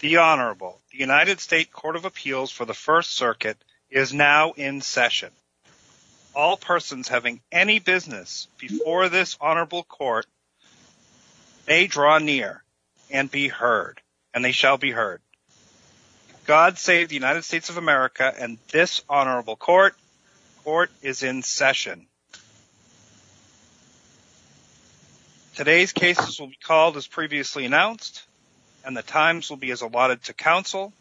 The Honorable, the United States Court of Appeals for the First Circuit is now in session. All persons having any business before this Honorable Court may draw near and be heard, and they shall be heard. God save the United States of America and this Honorable Court. Court is in session. Today's cases will be called as previously announced, and the times will be as allotted to counsel.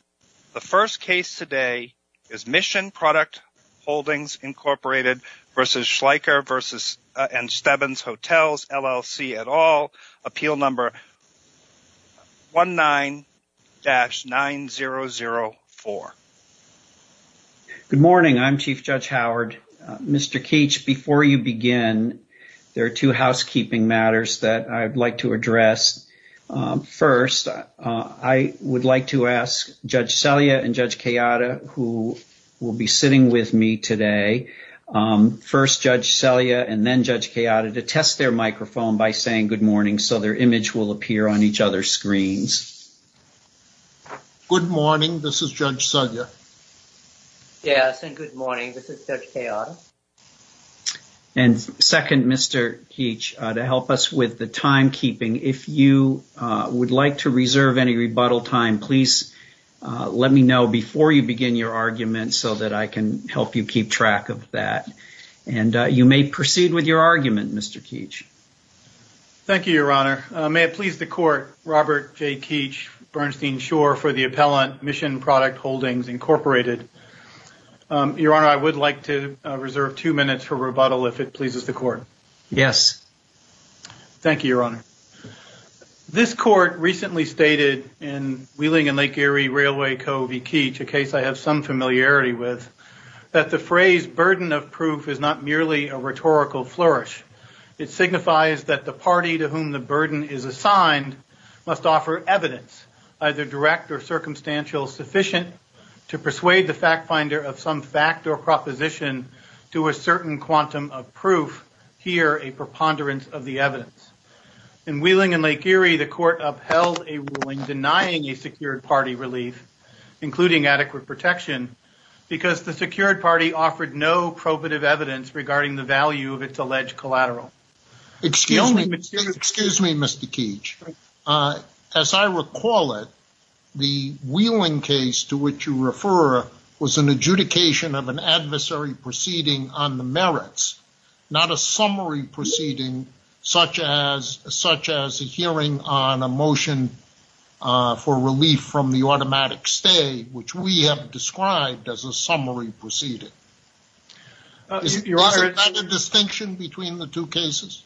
The first case today is Mission Product Holdings, Inc. v. Schleicher & Stebbins Hotels, LLC, et al. Appeal number 19-9004. Good morning. I'm Chief Judge Howard. Mr. Keach, before you begin, there are two housekeeping matters that I'd like to address. First, I would like to ask Judge Selya and Judge Kayada, who will be sitting with me today, first Judge Selya and then Judge Kayada, to test their microphone by saying good morning so their image will appear on each other's screens. Good morning. This is Judge Selya. Yes, and good morning. This is Judge Kayada. And second, Mr. Keach, to help us with the timekeeping, if you would like to reserve any rebuttal time, please let me know before you begin your argument so that I can help you keep track of that. And you may proceed with your argument, Mr. Keach. Thank you, Your Honor. May it please the Court, Robert J. Keach, Bernstein Shore for the appellant, Mission Product Holdings, Inc. Your Honor, I would like to reserve two minutes for rebuttal if it pleases the Court. Yes. Thank you, Your Honor. This Court recently stated in Wheeling and Lake Erie Railway Co. v. Keach, a case I have some familiarity with, that the phrase burden of proof is not merely a rhetorical flourish. It signifies that the party to whom the burden is assigned must offer evidence, either direct or circumstantial, sufficient to persuade the fact finder of some fact or proposition to a certain quantum of proof, here a preponderance of the evidence. In Wheeling and Lake Erie, the Court upheld a ruling denying a secured party relief, including adequate protection, because the secured party offered no probative evidence regarding the value of its alleged collateral. Excuse me, Mr. Keach. As I recall it, the Wheeling case to which you refer was an adjudication of an adversary proceeding on the merits, not a summary proceeding such as a hearing on a motion for relief from the automatic stay, which we have described as a summary proceeding. Isn't that a distinction between the two cases?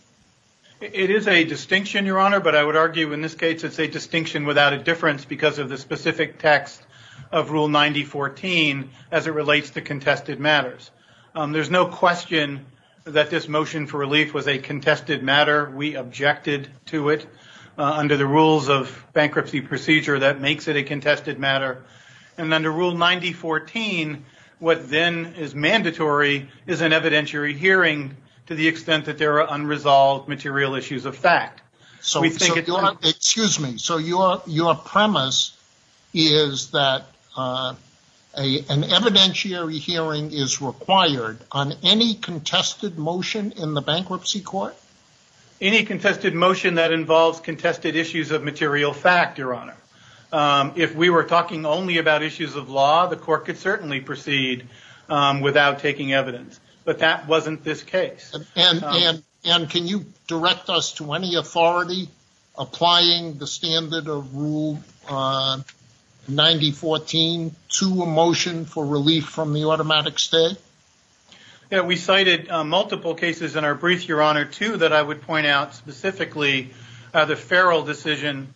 It is a distinction, Your Honor, but I would argue in this case it's a distinction without a difference because of the specific text of Rule 9014 as it relates to contested matters. There's no question that this motion for relief was a contested matter. We objected to it under the rules of bankruptcy procedure that makes it a contested matter. And under Rule 9014, what then is mandatory is an evidentiary hearing to the extent that there are unresolved material issues of fact. Excuse me, so your premise is that an evidentiary hearing is required on any contested motion in the bankruptcy court? Any contested motion that involves contested issues of material fact, Your Honor. If we were talking only about issues of law, the court could certainly proceed without taking evidence, but that wasn't this case. And can you direct us to any authority applying the standard of Rule 9014 to a motion for relief from the automatic stay? We cited multiple cases in our brief, Your Honor, too, that I would point out specifically the Farrell decision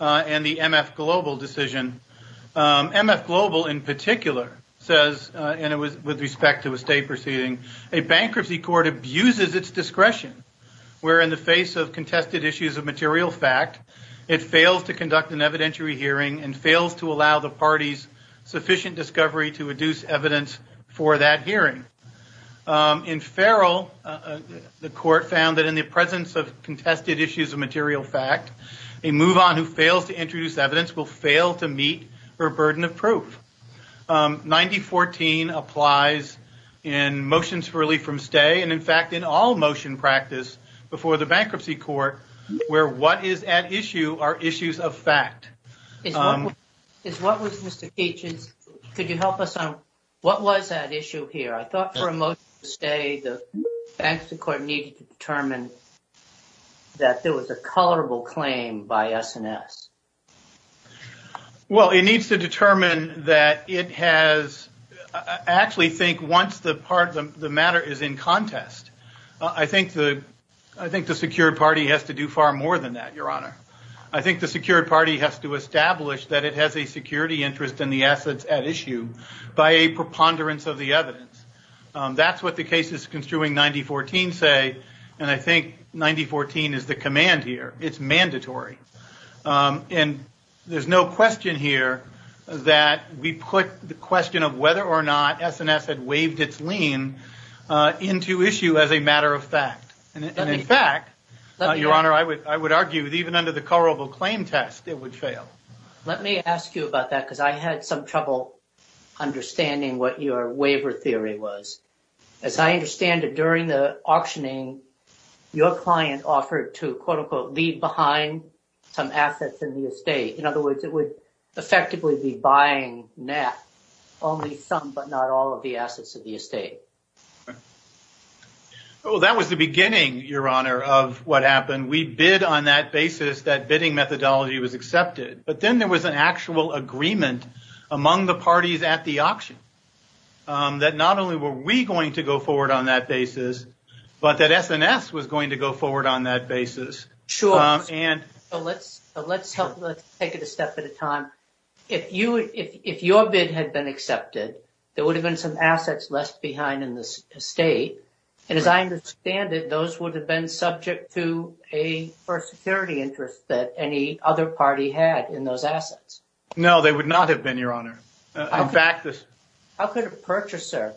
and the MF Global decision. MF Global in particular says, and it was with respect to a state proceeding, a bankruptcy court abuses its discretion where in the face of contested issues of material fact, it fails to conduct an evidentiary hearing and fails to allow the parties sufficient discovery to reduce evidence for that hearing. In Farrell, the court found that in the presence of contested issues of material fact, a move on who fails to introduce evidence will fail to meet her burden of proof. 9014 applies in motions for relief from stay. And in fact, in all motion practice before the bankruptcy court where what is at issue are issues of fact. Is what Mr. Keechins, could you help us on what was at issue here? I thought for a motion to stay, the bankruptcy court needed to determine that there was a colorable claim by S&S. Well, it needs to determine that it has actually think once the part of the matter is in contest. I think the I think the secured party has to do far more than that, Your Honor. I think the secured party has to establish that it has a security interest in the assets at issue by a preponderance of the evidence. That's what the cases construing 9014 say. And I think 9014 is the command here. It's mandatory. And there's no question here that we put the question of whether or not S&S had waived its lien into issue as a matter of fact. And in fact, Your Honor, I would argue that even under the colorable claim test, it would fail. Let me ask you about that because I had some trouble understanding what your waiver theory was. As I understand it, during the auctioning, your client offered to quote unquote leave behind some assets in the estate. In other words, it would effectively be buying that only some, but not all of the assets of the estate. Well, that was the beginning, Your Honor, of what happened. We bid on that basis. That bidding methodology was accepted. But then there was an actual agreement among the parties at the auction. That not only were we going to go forward on that basis, but that S&S was going to go forward on that basis. Let's take it a step at a time. If your bid had been accepted, there would have been some assets left behind in the estate. And as I understand it, those would have been subject to a security interest that any other party had in those assets. No, they would not have been, Your Honor. How could a purchaser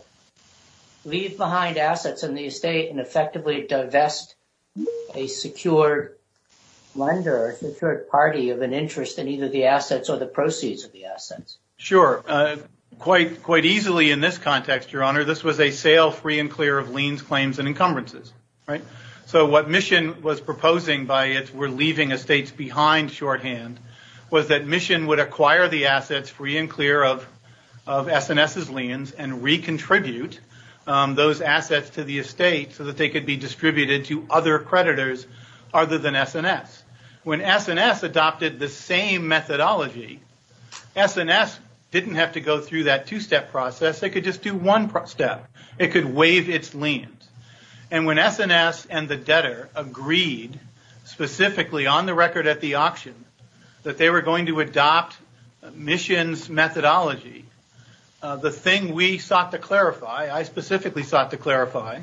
leave behind assets in the estate and effectively divest a secured lender or a secured party of an interest in either the assets or the proceeds of the assets? Sure. Quite easily in this context, Your Honor, this was a sale free and clear of liens, claims, and encumbrances. So what Mission was proposing by its we're leaving estates behind shorthand was that Mission would acquire the assets free and clear of S&S's liens and re-contribute those assets to the estate so that they could be distributed to other creditors other than S&S. When S&S adopted the same methodology, S&S didn't have to go through that two-step process. They could just do one step. It could waive its liens. And when S&S and the debtor agreed specifically on the record at the auction that they were going to adopt Mission's methodology, the thing we sought to clarify, I specifically sought to clarify,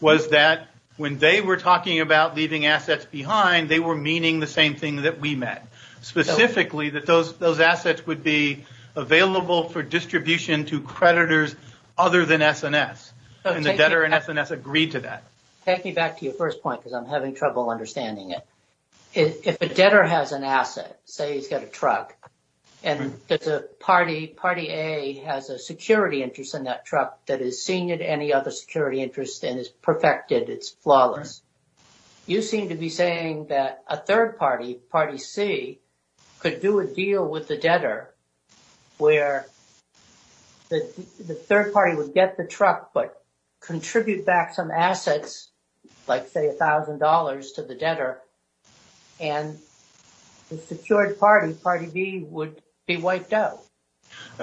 was that when they were talking about leaving assets behind, they were meaning the same thing that we meant. Specifically that those assets would be available for distribution to creditors other than S&S. And the debtor and S&S agreed to that. Take me back to your first point because I'm having trouble understanding it. If a debtor has an asset, say he's got a truck, and there's a party, party A has a security interest in that truck that is senior to any other security interest and is perfected, it's flawless. You seem to be saying that a third party, party C, could do a deal with the debtor where the third party would get the truck but contribute back some assets, like say $1,000 to the debtor, and the secured party, party B, would be wiped out.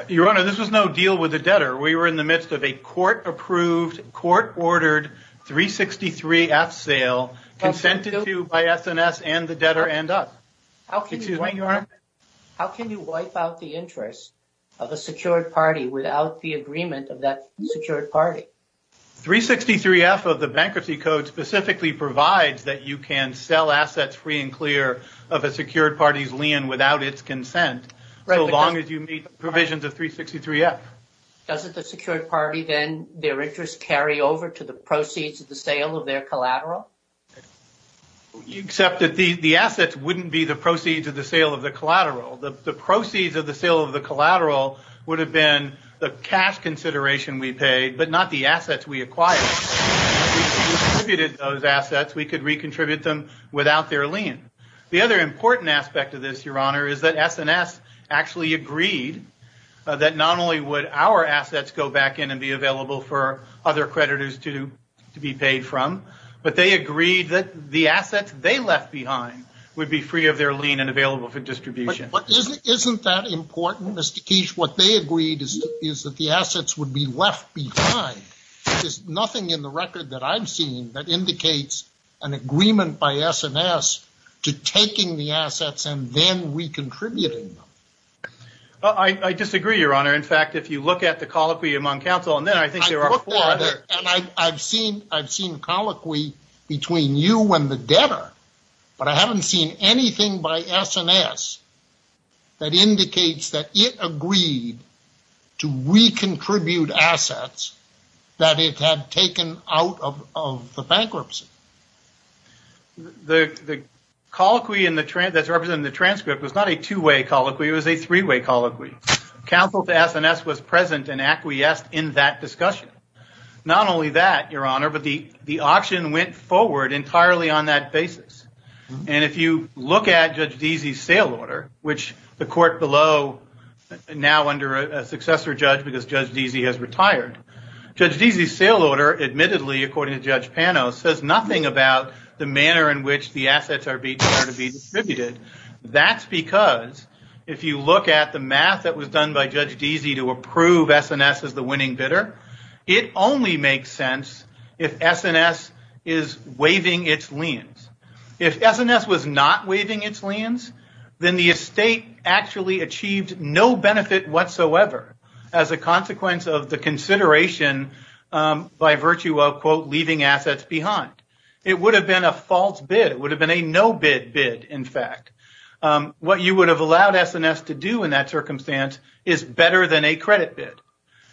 Your Honor, this was no deal with the debtor. We were in the midst of a court-approved, court-ordered 363F sale consented to by S&S and the debtor and us. How can you wipe out the interest of a secured party without the agreement of that secured party? 363F of the Bankruptcy Code specifically provides that you can sell assets free and clear of a secured party's lien without its consent so long as you meet the provisions of 363F. Doesn't the secured party then, their interest carry over to the proceeds of the sale of their collateral? Except that the assets wouldn't be the proceeds of the sale of the collateral. The proceeds of the sale of the collateral would have been the cash consideration we paid but not the assets we acquired. If we redistributed those assets, we could recontribute them without their lien. The other important aspect of this, Your Honor, is that S&S actually agreed that not only would our assets go back in and be available for other creditors to be paid from, but they agreed that the assets they left behind would be free of their lien and available for distribution. But isn't that important, Mr. Keech? What they agreed is that the assets would be left behind. There's nothing in the record that I've seen that indicates an agreement by S&S to taking the assets and then recontributing them. I disagree, Your Honor. In fact, if you look at the colloquy among counsel and then I think there are four other... that indicates that it agreed to recontribute assets that it had taken out of the bankruptcy. The colloquy that's represented in the transcript was not a two-way colloquy. It was a three-way colloquy. Counsel to S&S was present and acquiesced in that discussion. Not only that, Your Honor, but the auction went forward entirely on that basis. And if you look at Judge Deasy's sale order, which the court below now under a successor judge because Judge Deasy has retired, Judge Deasy's sale order admittedly, according to Judge Pano, says nothing about the manner in which the assets are being distributed. That's because if you look at the math that was done by Judge Deasy to approve S&S as the winning bidder, it only makes sense if S&S is waiving its liens. If S&S was not waiving its liens, then the estate actually achieved no benefit whatsoever as a consequence of the consideration by virtue of, quote, leaving assets behind. It would have been a false bid. It would have been a no-bid bid, in fact. What you would have allowed S&S to do in that circumstance is better than a credit bid.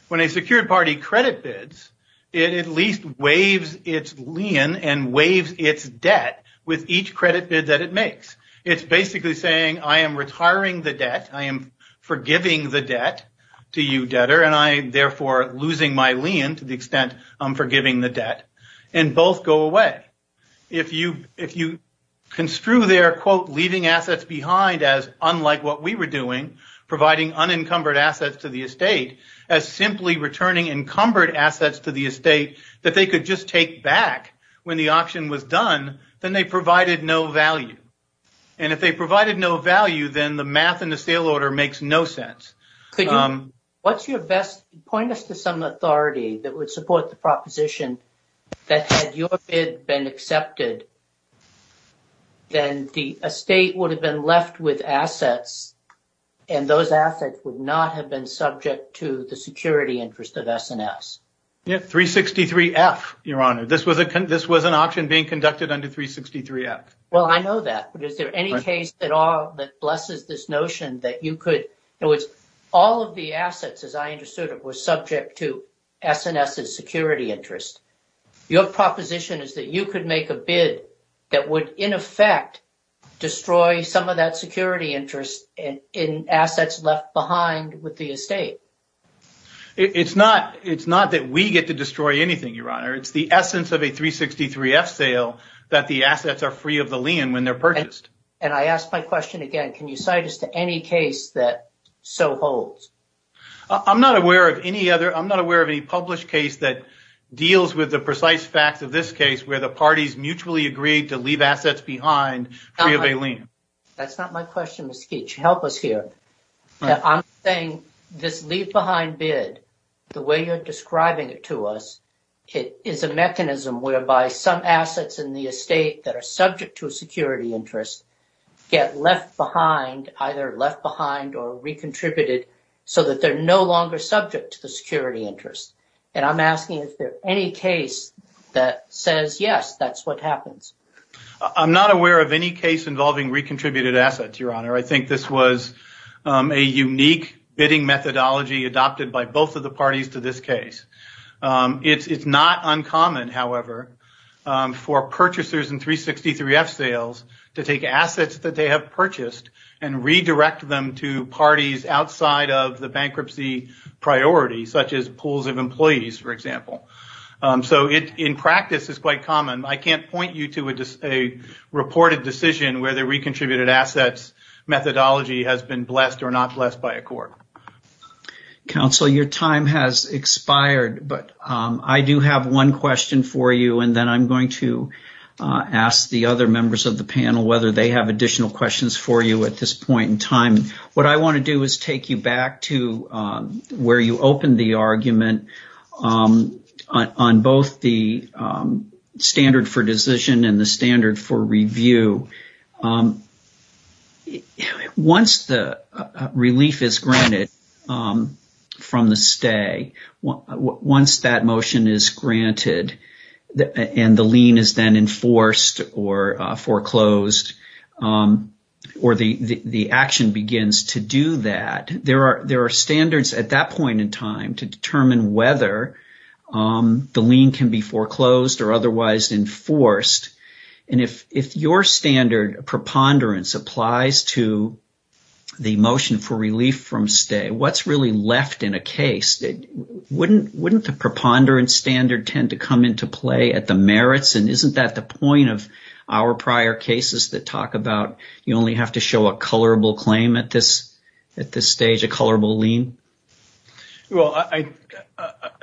When a secured party credit bids, it at least waives its lien and waives its debt with each credit bid that it makes. It's basically saying, I am retiring the debt. I am forgiving the debt to you, debtor, and I am therefore losing my lien to the extent I'm forgiving the debt. And both go away. If you construe their, quote, leaving assets behind as unlike what we were doing, providing unencumbered assets to the estate, as simply returning encumbered assets to the estate that they could just take back when the auction was done, then they provided no value. And if they provided no value, then the math in the sale order makes no sense. Could you point us to some authority that would support the proposition that had your bid been accepted, then the estate would have been left with assets, and those assets would not have been subject to the security interest of S&S. Yeah, 363F, Your Honor. This was an auction being conducted under 363F. Well, I know that. But is there any case at all that blesses this notion that you could – in other words, all of the assets, as I understood it, were subject to S&S's security interest. Your proposition is that you could make a bid that would, in effect, destroy some of that security interest in assets left behind with the estate. It's not that we get to destroy anything, Your Honor. It's the essence of a 363F sale that the assets are free of the lien when they're purchased. And I ask my question again. Can you cite us to any case that so holds? I'm not aware of any other – I'm not aware of any published case that deals with the precise facts of this case where the parties mutually agreed to leave assets behind free of a lien. That's not my question, Mr. Keech. Help us here. I'm saying this leave-behind bid, the way you're describing it to us, is a mechanism whereby some assets in the estate that are subject to a security interest get left behind, either left behind or recontributed, so that they're no longer subject to the security interest. And I'm asking if there's any case that says, yes, that's what happens. I'm not aware of any case involving recontributed assets, Your Honor. I think this was a unique bidding methodology adopted by both of the parties to this case. It's not uncommon, however, for purchasers in 363F sales to take assets that they have purchased and redirect them to parties outside of the bankruptcy priority, such as pools of employees, for example. So in practice, it's quite common. I can't point you to a reported decision where the recontributed assets methodology has been blessed or not blessed by a court. Counsel, your time has expired, but I do have one question for you, and then I'm going to ask the other members of the panel whether they have additional questions for you at this point in time. What I want to do is take you back to where you opened the argument on both the standard for decision and the standard for review. Once the relief is granted from the stay, once that motion is granted and the lien is then enforced or foreclosed, or the action begins to do that, there are standards at that point in time to determine whether the lien can be foreclosed or otherwise enforced. If your standard preponderance applies to the motion for relief from stay, what's really left in a case? Wouldn't the preponderance standard tend to come into play at the merits, and isn't that the point of our prior cases that talk about you only have to show a colorable claim at this stage, a colorable lien? I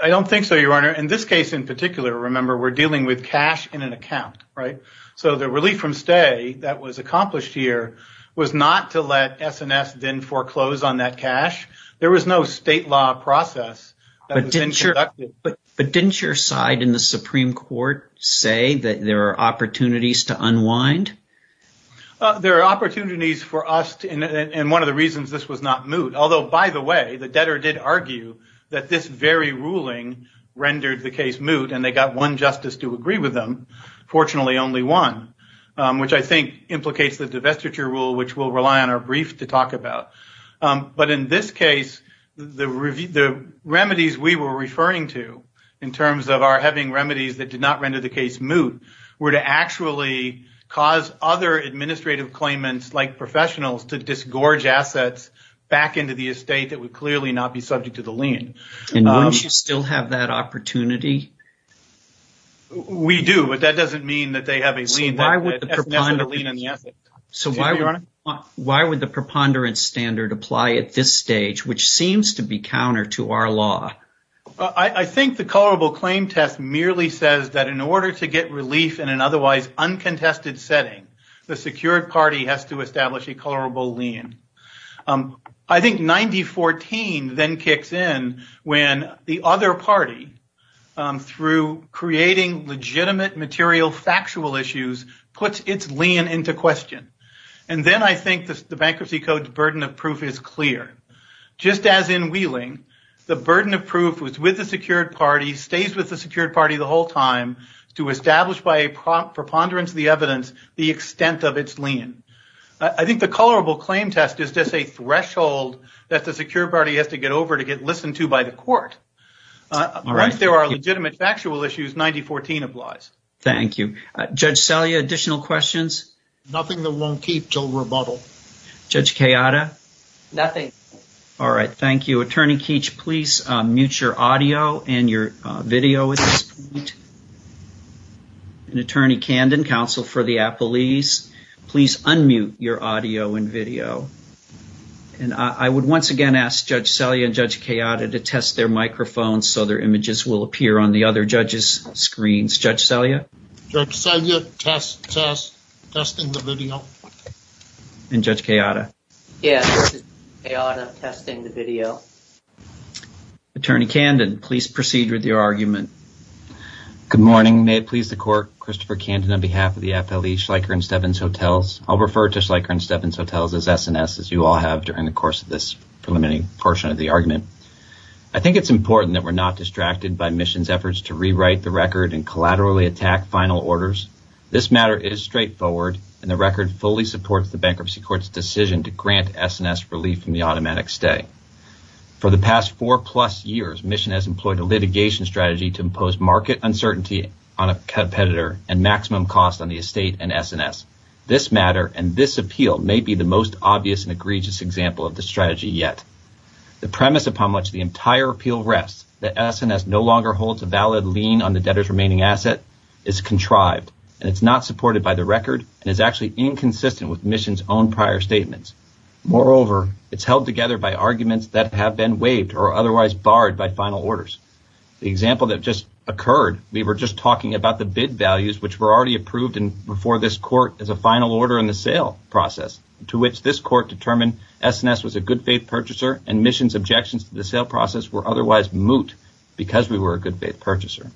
don't think so, Your Honor. In this case in particular, remember, we're dealing with cash in an account. The relief from stay that was accomplished here was not to let S&S then foreclose on that cash. There was no state law process. But didn't your side in the Supreme Court say that there are opportunities to unwind? There are opportunities for us, and one of the reasons this was not moot, although, by the way, the debtor did argue that this very ruling rendered the case moot, and they got one justice to agree with them. Fortunately, only one, which I think implicates the divestiture rule, which we'll rely on our brief to talk about. But in this case, the remedies we were referring to, in terms of our having remedies that did not render the case moot, were to actually cause other administrative claimants, like professionals, to disgorge assets back into the estate that would clearly not be subject to the lien. And wouldn't you still have that opportunity? We do, but that doesn't mean that they have a lien on the asset. So why would the preponderance standard apply at this stage, which seems to be counter to our law? I think the colorable claim test merely says that in order to get relief in an otherwise uncontested setting, the secured party has to establish a colorable lien. I think 9014 then kicks in when the other party, through creating legitimate material factual issues, puts its lien into question. And then I think the Bankruptcy Code's burden of proof is clear. Just as in Wheeling, the burden of proof was with the secured party, stays with the secured party the whole time, to establish by a preponderance of the evidence the extent of its lien. I think the colorable claim test is just a threshold that the secured party has to get over to get listened to by the court. Unless there are legitimate factual issues, 9014 applies. Thank you. Judge Selye, additional questions? Nothing that won't keep till rebuttal. Judge Kayada? Nothing. All right, thank you. Attorney Keech, please mute your audio and your video at this point. And Attorney Kandon, counsel for the appellees, please unmute your audio and video. And I would once again ask Judge Selye and Judge Kayada to test their microphones so their images will appear on the other judges' screens. Judge Selye? Judge Selye, test, test, testing the video. And Judge Kayada? Yes, Kayada, testing the video. Attorney Kandon, please proceed with your argument. Good morning. May it please the court, Christopher Kandon on behalf of the FLE Schleicher & Stebbins Hotels. I'll refer to Schleicher & Stebbins Hotels as S&S, as you all have during the course of this preliminary portion of the argument. I think it's important that we're not distracted by Mission's efforts to rewrite the record and collaterally attack final orders. This matter is straightforward, and the record fully supports the Bankruptcy Court's decision to grant S&S relief from the automatic stay. For the past four-plus years, Mission has employed a litigation strategy to impose market uncertainty on a competitor and maximum cost on the estate and S&S. This matter and this appeal may be the most obvious and egregious example of this strategy yet. The premise upon which the entire appeal rests, that S&S no longer holds a valid lien on the debtor's remaining asset, is contrived, and it's not supported by the record and is actually inconsistent with Mission's own prior statements. Moreover, it's held together by arguments that have been waived or otherwise barred by final orders. The example that just occurred, we were just talking about the bid values which were already approved before this court as a final order in the sale process, to which this court determined S&S was a good-faith purchaser and Mission's objections to the sale process were otherwise moot because we were a good-faith purchaser.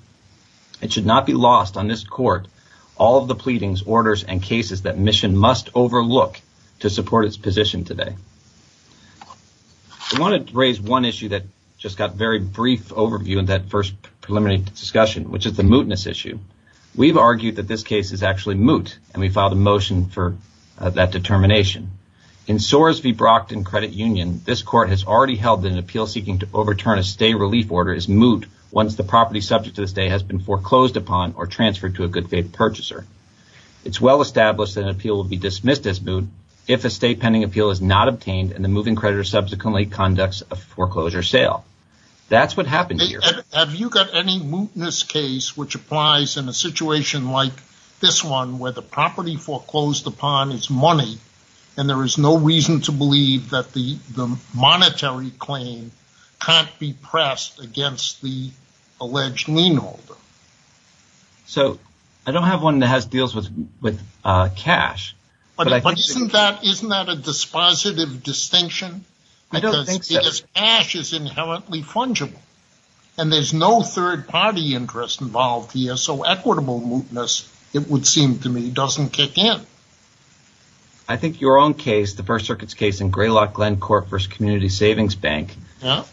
It should not be lost on this court all of the pleadings, orders, and cases that Mission must overlook to support its position today. I wanted to raise one issue that just got very brief overview in that first preliminary discussion, which is the mootness issue. We've argued that this case is actually moot, and we filed a motion for that determination. In Soares v. Brockton Credit Union, this court has already held that an appeal seeking to overturn a stay relief order is moot once the property subject to the stay has been foreclosed upon or transferred to a good-faith purchaser. It's well established that an appeal will be dismissed as moot if a stay pending appeal is not obtained and the moving creditor subsequently conducts a foreclosure sale. That's what happened here. Have you got any mootness case which applies in a situation like this one where the property foreclosed upon is money and there is no reason to believe that the monetary claim can't be pressed against the alleged lien holder? I don't have one that has deals with cash. Isn't that a dispositive distinction? Because cash is inherently fungible, and there's no third-party interest involved here, so equitable mootness, it would seem to me, doesn't kick in. I think your own case, the First Circuit's case in Greylock Glen Corp v. Community Savings Bank,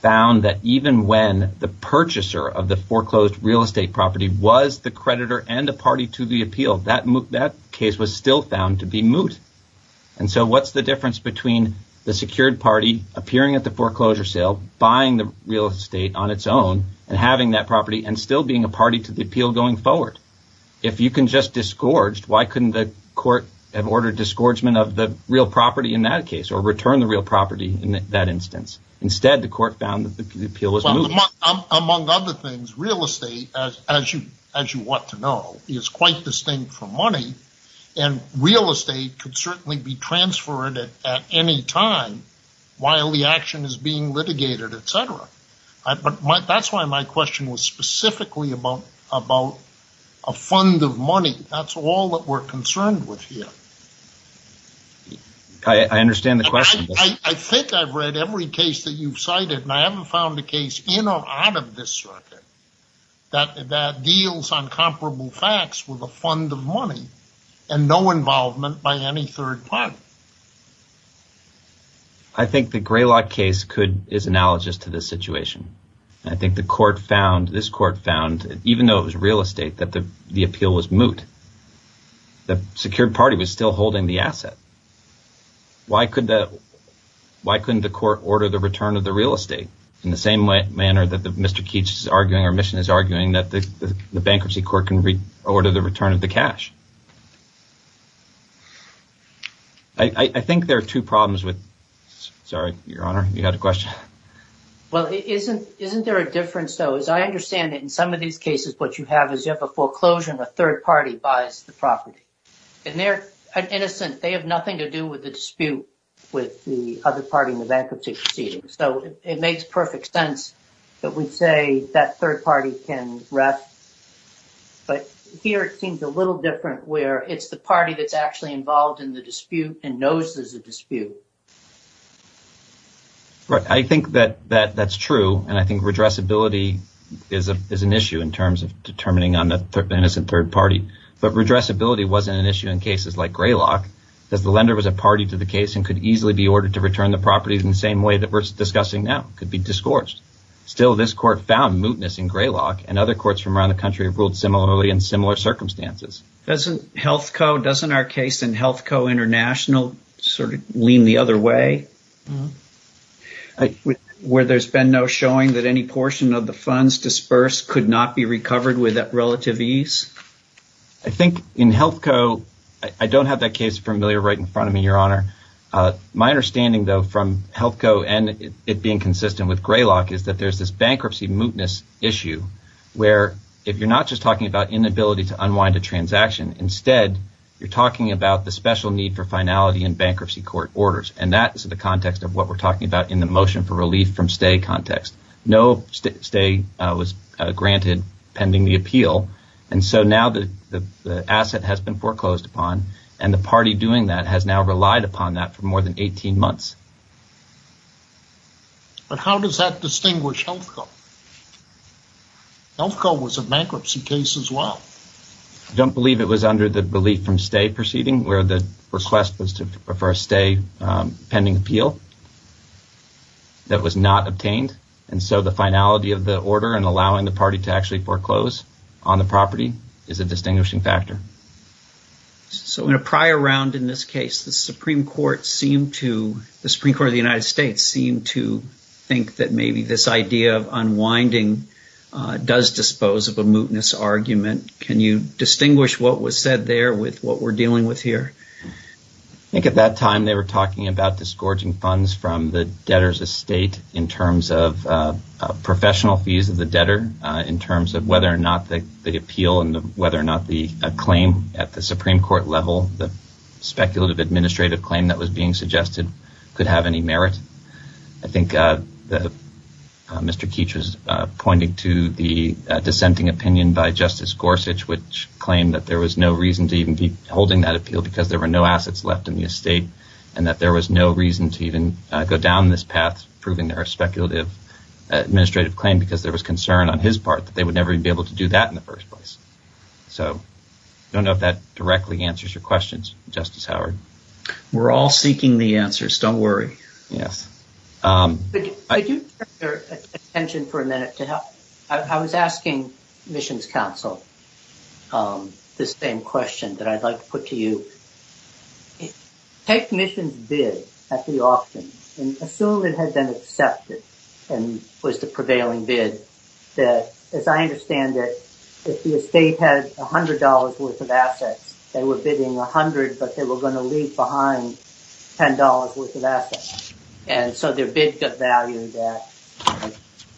found that even when the purchaser of the foreclosed real estate property was the creditor and the party to the appeal, that case was still found to be moot. So what's the difference between the secured party appearing at the foreclosure sale, buying the real estate on its own and having that property and still being a party to the appeal going forward? If you can just disgorge, why couldn't the court have ordered disgorgement of the real property in that case or return the real property in that instance? Instead, the court found that the appeal was moot. Among other things, real estate, as you want to know, is quite distinct from money, and real estate could certainly be transferred at any time while the action is being litigated, etc. But that's why my question was specifically about a fund of money. That's all that we're concerned with here. I understand the question. I think I've read every case that you've cited, and I haven't found a case in or out of this circuit that deals on comparable facts with a fund of money and no involvement by any third party. I think the Greylock case is analogous to this situation. I think the court found, this court found, even though it was real estate, that the appeal was moot. The secured party was still holding the asset. Why couldn't the court order the return of the real estate in the same manner that Mr. Keech is arguing or Mission is arguing that the bankruptcy court can order the return of the cash? I think there are two problems with – sorry, Your Honor, you had a question? Well, isn't there a difference, though? As I understand it, in some of these cases what you have is you have a foreclosure and a third party buys the property. And they're innocent. They have nothing to do with the dispute with the other party in the bankruptcy proceedings. So it makes perfect sense that we'd say that third party can rest. But here it seems a little different where it's the party that's actually involved in the dispute and knows there's a dispute. Right. I think that that's true and I think redressability is an issue in terms of determining on the innocent third party. But redressability wasn't an issue in cases like Greylock because the lender was a party to the case and could easily be ordered to return the property in the same way that we're discussing now. It could be discoursed. Still, this court found mootness in Greylock and other courts from around the country have ruled similarly in similar circumstances. Doesn't HealthCo, doesn't our case in HealthCo International sort of lean the other way? Where there's been no showing that any portion of the funds dispersed could not be recovered with relative ease? I think in HealthCo, I don't have that case familiar right in front of me, Your Honor. My understanding though from HealthCo and it being consistent with Greylock is that there's this bankruptcy mootness issue where if you're not just talking about inability to unwind a transaction, instead you're talking about the special need for finality in bankruptcy court orders. And that is the context of what we're talking about in the motion for relief from stay context. No stay was granted pending the appeal and so now the asset has been foreclosed upon and the party doing that has now relied upon that for more than 18 months. But how does that distinguish HealthCo? HealthCo was a bankruptcy case as well. I don't believe it was under the relief from stay proceeding where the request was for a stay pending appeal that was not obtained. And so the finality of the order and allowing the party to actually foreclose on the property is a distinguishing factor. So in a prior round in this case, the Supreme Court of the United States seemed to think that maybe this idea of unwinding does dispose of a mootness argument. Can you distinguish what was said there with what we're dealing with here? I think at that time they were talking about disgorging funds from the debtor's estate in terms of professional fees of the debtor in terms of whether or not the appeal and whether or not the claim at the Supreme Court level, the speculative administrative claim that was being suggested could have any merit. I think Mr. Keech was pointing to the dissenting opinion by Justice Gorsuch which claimed that there was no reason to even be holding that appeal because there were no assets left in the estate and that there was no reason to even go down this path proving their speculative administrative claim because there was concern on his part that they would never be able to do that in the first place. So I don't know if that directly answers your questions, Justice Howard. We're all seeking the answers, don't worry. Could you turn your attention for a minute? I was asking Missions Counsel this same question that I'd like to put to you. Take Missions' bid at the auction and assume it had been accepted and was the prevailing bid. As I understand it, if the estate had $100 worth of assets, they were bidding $100 but they were going to leave behind $10 worth of assets and so their bid got valued at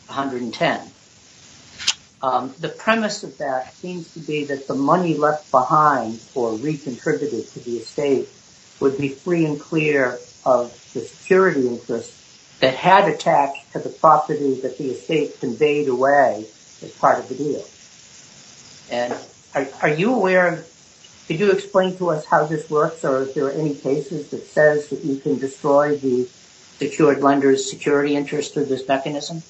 $110. The premise of that seems to be that the money left behind or re-contributed to the estate would be free and clear of the security interest that had attached to the property that the estate conveyed away as part of the deal. Are you aware, could you explain to us how this works or if there are any cases that says that you can destroy the secured lender's security interest through this mechanism?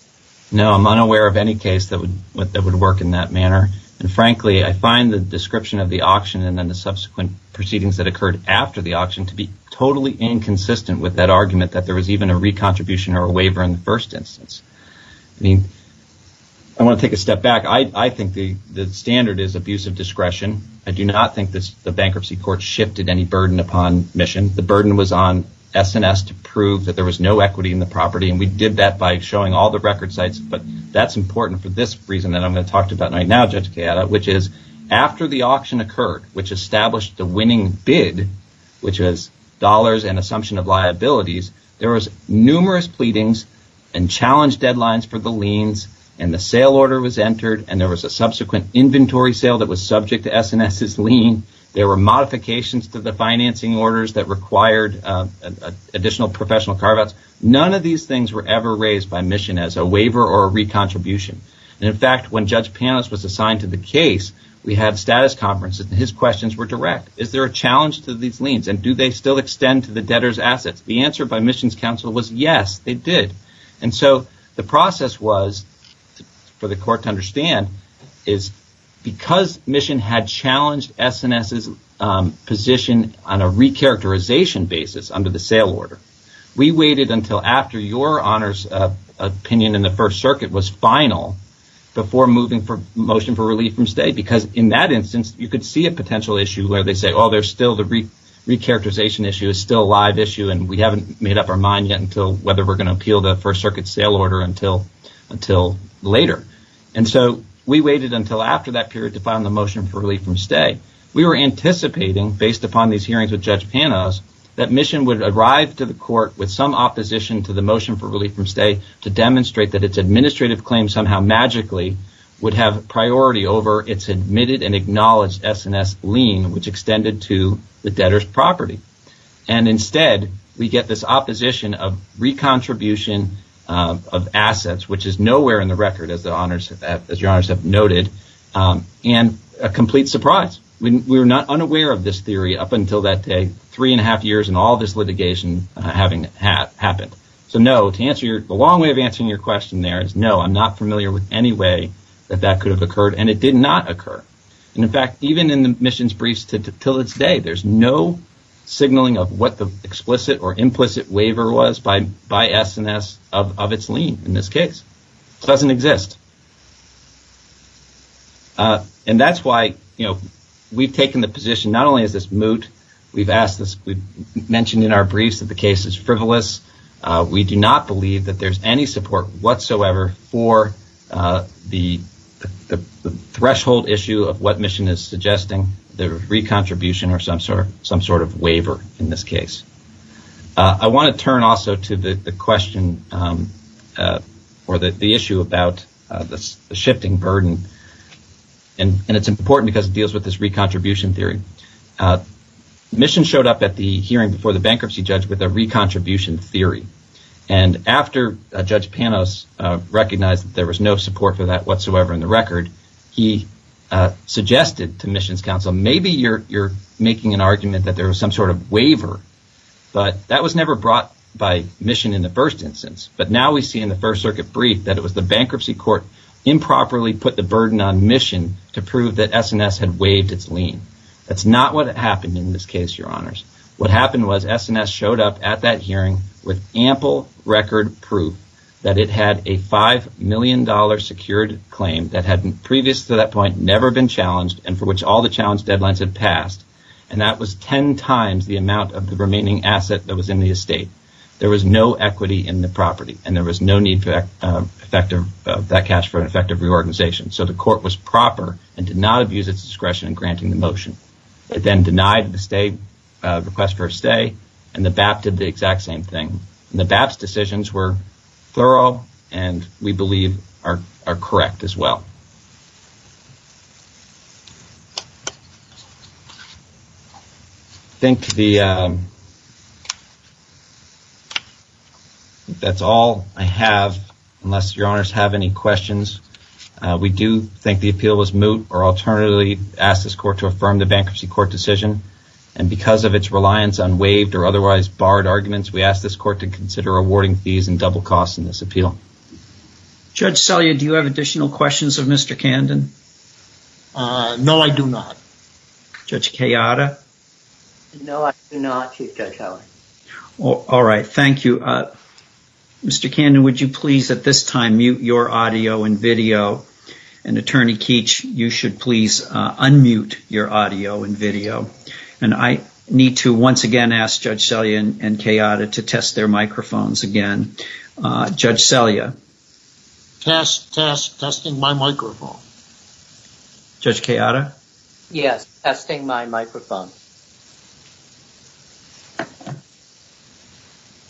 No, I'm unaware of any case that would work in that manner. And frankly, I find the description of the auction and then the subsequent proceedings that occurred after the auction to be totally inconsistent with that argument that there was even a re-contribution or a waiver in the first instance. I mean, I want to take a step back. I think the standard is abuse of discretion. I do not think the bankruptcy court shifted any burden upon Mission. The burden was on S&S to prove that there was no equity in the property and we did that by showing all the record sites but that's important for this reason that I'm going to talk to you about right now, Judge Cayetta, which is after the auction occurred, which established the winning bid, which was dollars and assumption of liabilities, there was numerous pleadings and challenge deadlines for the liens and the sale order was entered and there was a subsequent inventory sale that was subject to S&S's lien. There were modifications to the financing orders that required additional professional carve-outs. None of these things were ever raised by Mission as a waiver or a re-contribution. And in fact, when Judge Panos was assigned to the case, we had status conferences and his questions were direct. Is there a challenge to these liens and do they still extend to the debtor's assets? The answer by Mission's counsel was yes, they did. And so the process was, for the court to understand, is because Mission had challenged S&S's position on a re-characterization basis under the sale order, we waited until after your honor's opinion in the first circuit was final before moving for motion for relief from state because in that instance, you could see a potential issue where they say, oh, there's still the re-characterization issue, it's still a live issue and we haven't made up our mind yet until whether we're going to appeal the claim. The first circuit sale order until later. And so we waited until after that period to find the motion for relief from state. We were anticipating, based upon these hearings with Judge Panos, that Mission would arrive to the court with some opposition to the motion for relief from state to demonstrate that its administrative claims somehow magically would have priority over its admitted and acknowledged S&S lien, which extended to the debtor's property. And instead, we get this opposition of re-contribution of assets, which is nowhere in the record as your honors have noted, and a complete surprise. We were not unaware of this theory up until that day, three and a half years and all this litigation having happened. So no, the long way of answering your question there is no, I'm not familiar with any way that that could have occurred and it did not occur. And in fact, even in the Mission's briefs to this day, there's no signaling of what the explicit or implicit waiver was by S&S of its lien in this case. It doesn't exist. And that's why we've taken the position, not only is this moot, we've mentioned in our briefs that the case is frivolous. We do not believe that there's any support whatsoever for the threshold issue of what Mission is suggesting, the re-contribution or some sort of waiver in this case. I want to turn also to the question or the issue about the shifting burden. And it's important because it deals with this re-contribution theory. Mission showed up at the hearing before the bankruptcy judge with a re-contribution theory. And after Judge Panos recognized that there was no support for that whatsoever in the record, he suggested to Mission's counsel, maybe you're making an argument that there was some sort of waiver, but that was never brought by Mission in the first instance. But now we see in the First Circuit brief that it was the bankruptcy court improperly put the burden on Mission to prove that S&S had waived its lien. And that's not what happened in this case, Your Honors. What happened was S&S showed up at that hearing with ample record proof that it had a $5 million secured claim that had previous to that point never been challenged and for which all the challenge deadlines had passed. And that was 10 times the amount of the remaining asset that was in the estate. There was no equity in the property and there was no need for that cash for an effective reorganization. So the court was proper and did not abuse its discretion in granting the motion. It then denied the request for a stay and the BAP did the exact same thing. And the BAP's decisions were thorough and we believe are correct as well. I think that's all I have unless Your Honors have any questions. We do think the appeal was moot or alternatively ask this court to affirm the bankruptcy court decision. And because of its reliance on waived or otherwise barred arguments, we ask this court to consider awarding fees and double costs in this appeal. Judge Selya, do you have additional questions of Mr. Candon? No, I do not. Judge Kayada? No, I do not, Chief Judge Howell. All right, thank you. Mr. Candon, would you please at this time mute your audio and video? And Attorney Keech, you should please unmute your audio and video. And I need to once again ask Judge Selya and Kayada to test their microphones again. Judge Selya? Testing my microphone. Judge Kayada? Yes, testing my microphone.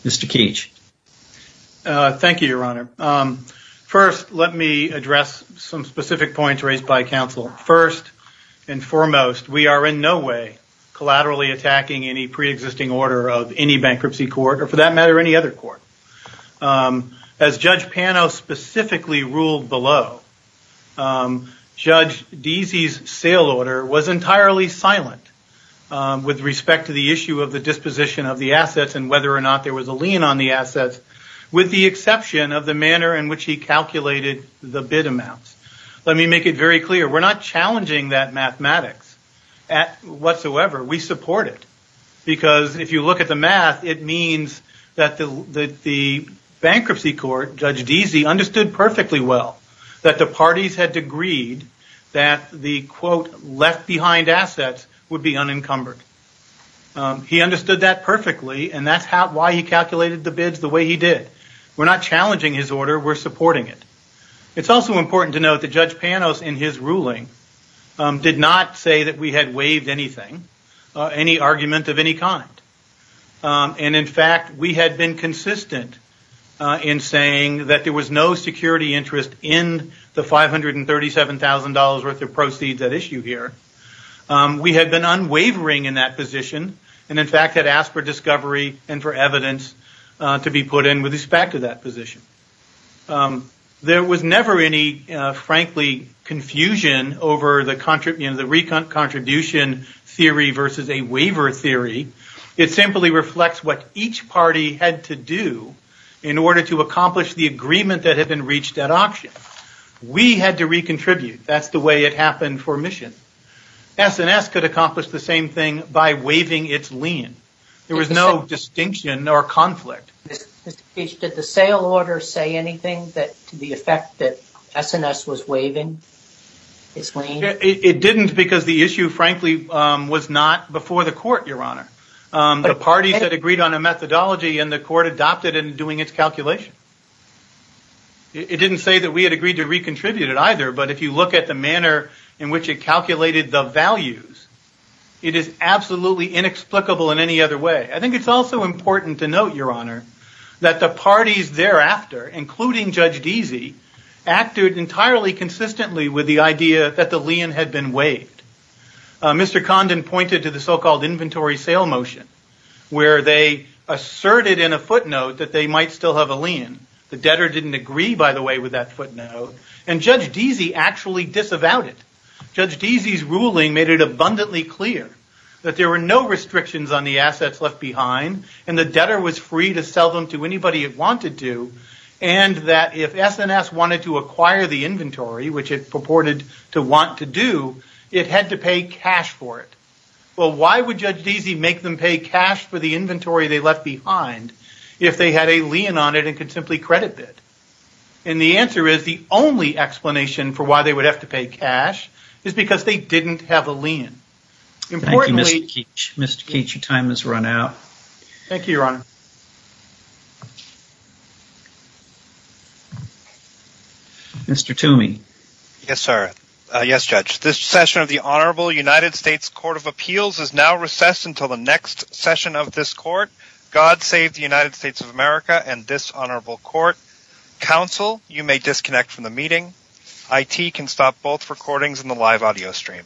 Mr. Keech? Thank you, Your Honor. First, let me address some specific points raised by counsel. First and foremost, we are in no way collaterally attacking any pre-existing order of any bankruptcy court, or for that matter, any other court. As Judge Pano specifically ruled below, Judge Deasy's sale order was entirely silent with respect to the issue of the disposition of the assets and whether or not there was a lien on the assets, with the exception of the manner in which he calculated the bid amounts. Let me make it very clear, we're not challenging that mathematics whatsoever. We support it. Because if you look at the math, it means that the bankruptcy court, Judge Deasy, understood perfectly well that the parties had agreed that the, quote, left-behind assets would be unencumbered. He understood that perfectly, and that's why he calculated the bids the way he did. We're not challenging his order, we're supporting it. It's also important to note that Judge Pano, in his ruling, did not say that we had waived anything, any argument of any kind. In fact, we had been consistent in saying that there was no security interest in the $537,000 worth of proceeds at issue here. We had been unwavering in that position, and in fact had asked for discovery and for evidence to be put in with respect to that position. There was never any, frankly, confusion over the re-contribution theory versus a waiver theory. It simply reflects what each party had to do in order to accomplish the agreement that had been reached at auction. We had to re-contribute. That's the way it happened for Mission. S&S could accomplish the same thing by waiving its lien. There was no distinction or conflict. Did the sale order say anything to the effect that S&S was waiving its lien? It didn't because the issue, frankly, was not before the court, Your Honor. The parties had agreed on a methodology, and the court adopted it in doing its calculation. It didn't say that we had agreed to re-contribute it either, but if you look at the manner in which it calculated the values, it is absolutely inexplicable in any other way. I think it's also important to note, Your Honor, that the parties thereafter, including Judge Deasy, acted entirely consistently with the idea that the lien had been waived. Mr. Condon pointed to the so-called inventory sale motion, where they asserted in a footnote that they might still have a lien. The debtor didn't agree, by the way, with that footnote, and Judge Deasy actually disavowed it. Judge Deasy's ruling made it abundantly clear that there were no restrictions on the assets left behind, and the debtor was free to sell them to anybody it wanted to, and that if S&S wanted to acquire the inventory, which it purported to want to do, they had to pay cash for it. Well, why would Judge Deasy make them pay cash for the inventory they left behind if they had a lien on it and could simply credit it? And the answer is, the only explanation for why they would have to pay cash is because they didn't have a lien. Thank you, Mr. Keach. Mr. Keach, your time has run out. Thank you, Your Honor. Mr. Toomey. Yes, sir. Yes, Judge. This session of the Honorable United States Court of Appeals is now recessed until the next session of this Court. God save the United States of America and this Honorable Court. Counsel, you may disconnect from the meeting. IT can stop both recordings and the live audio stream.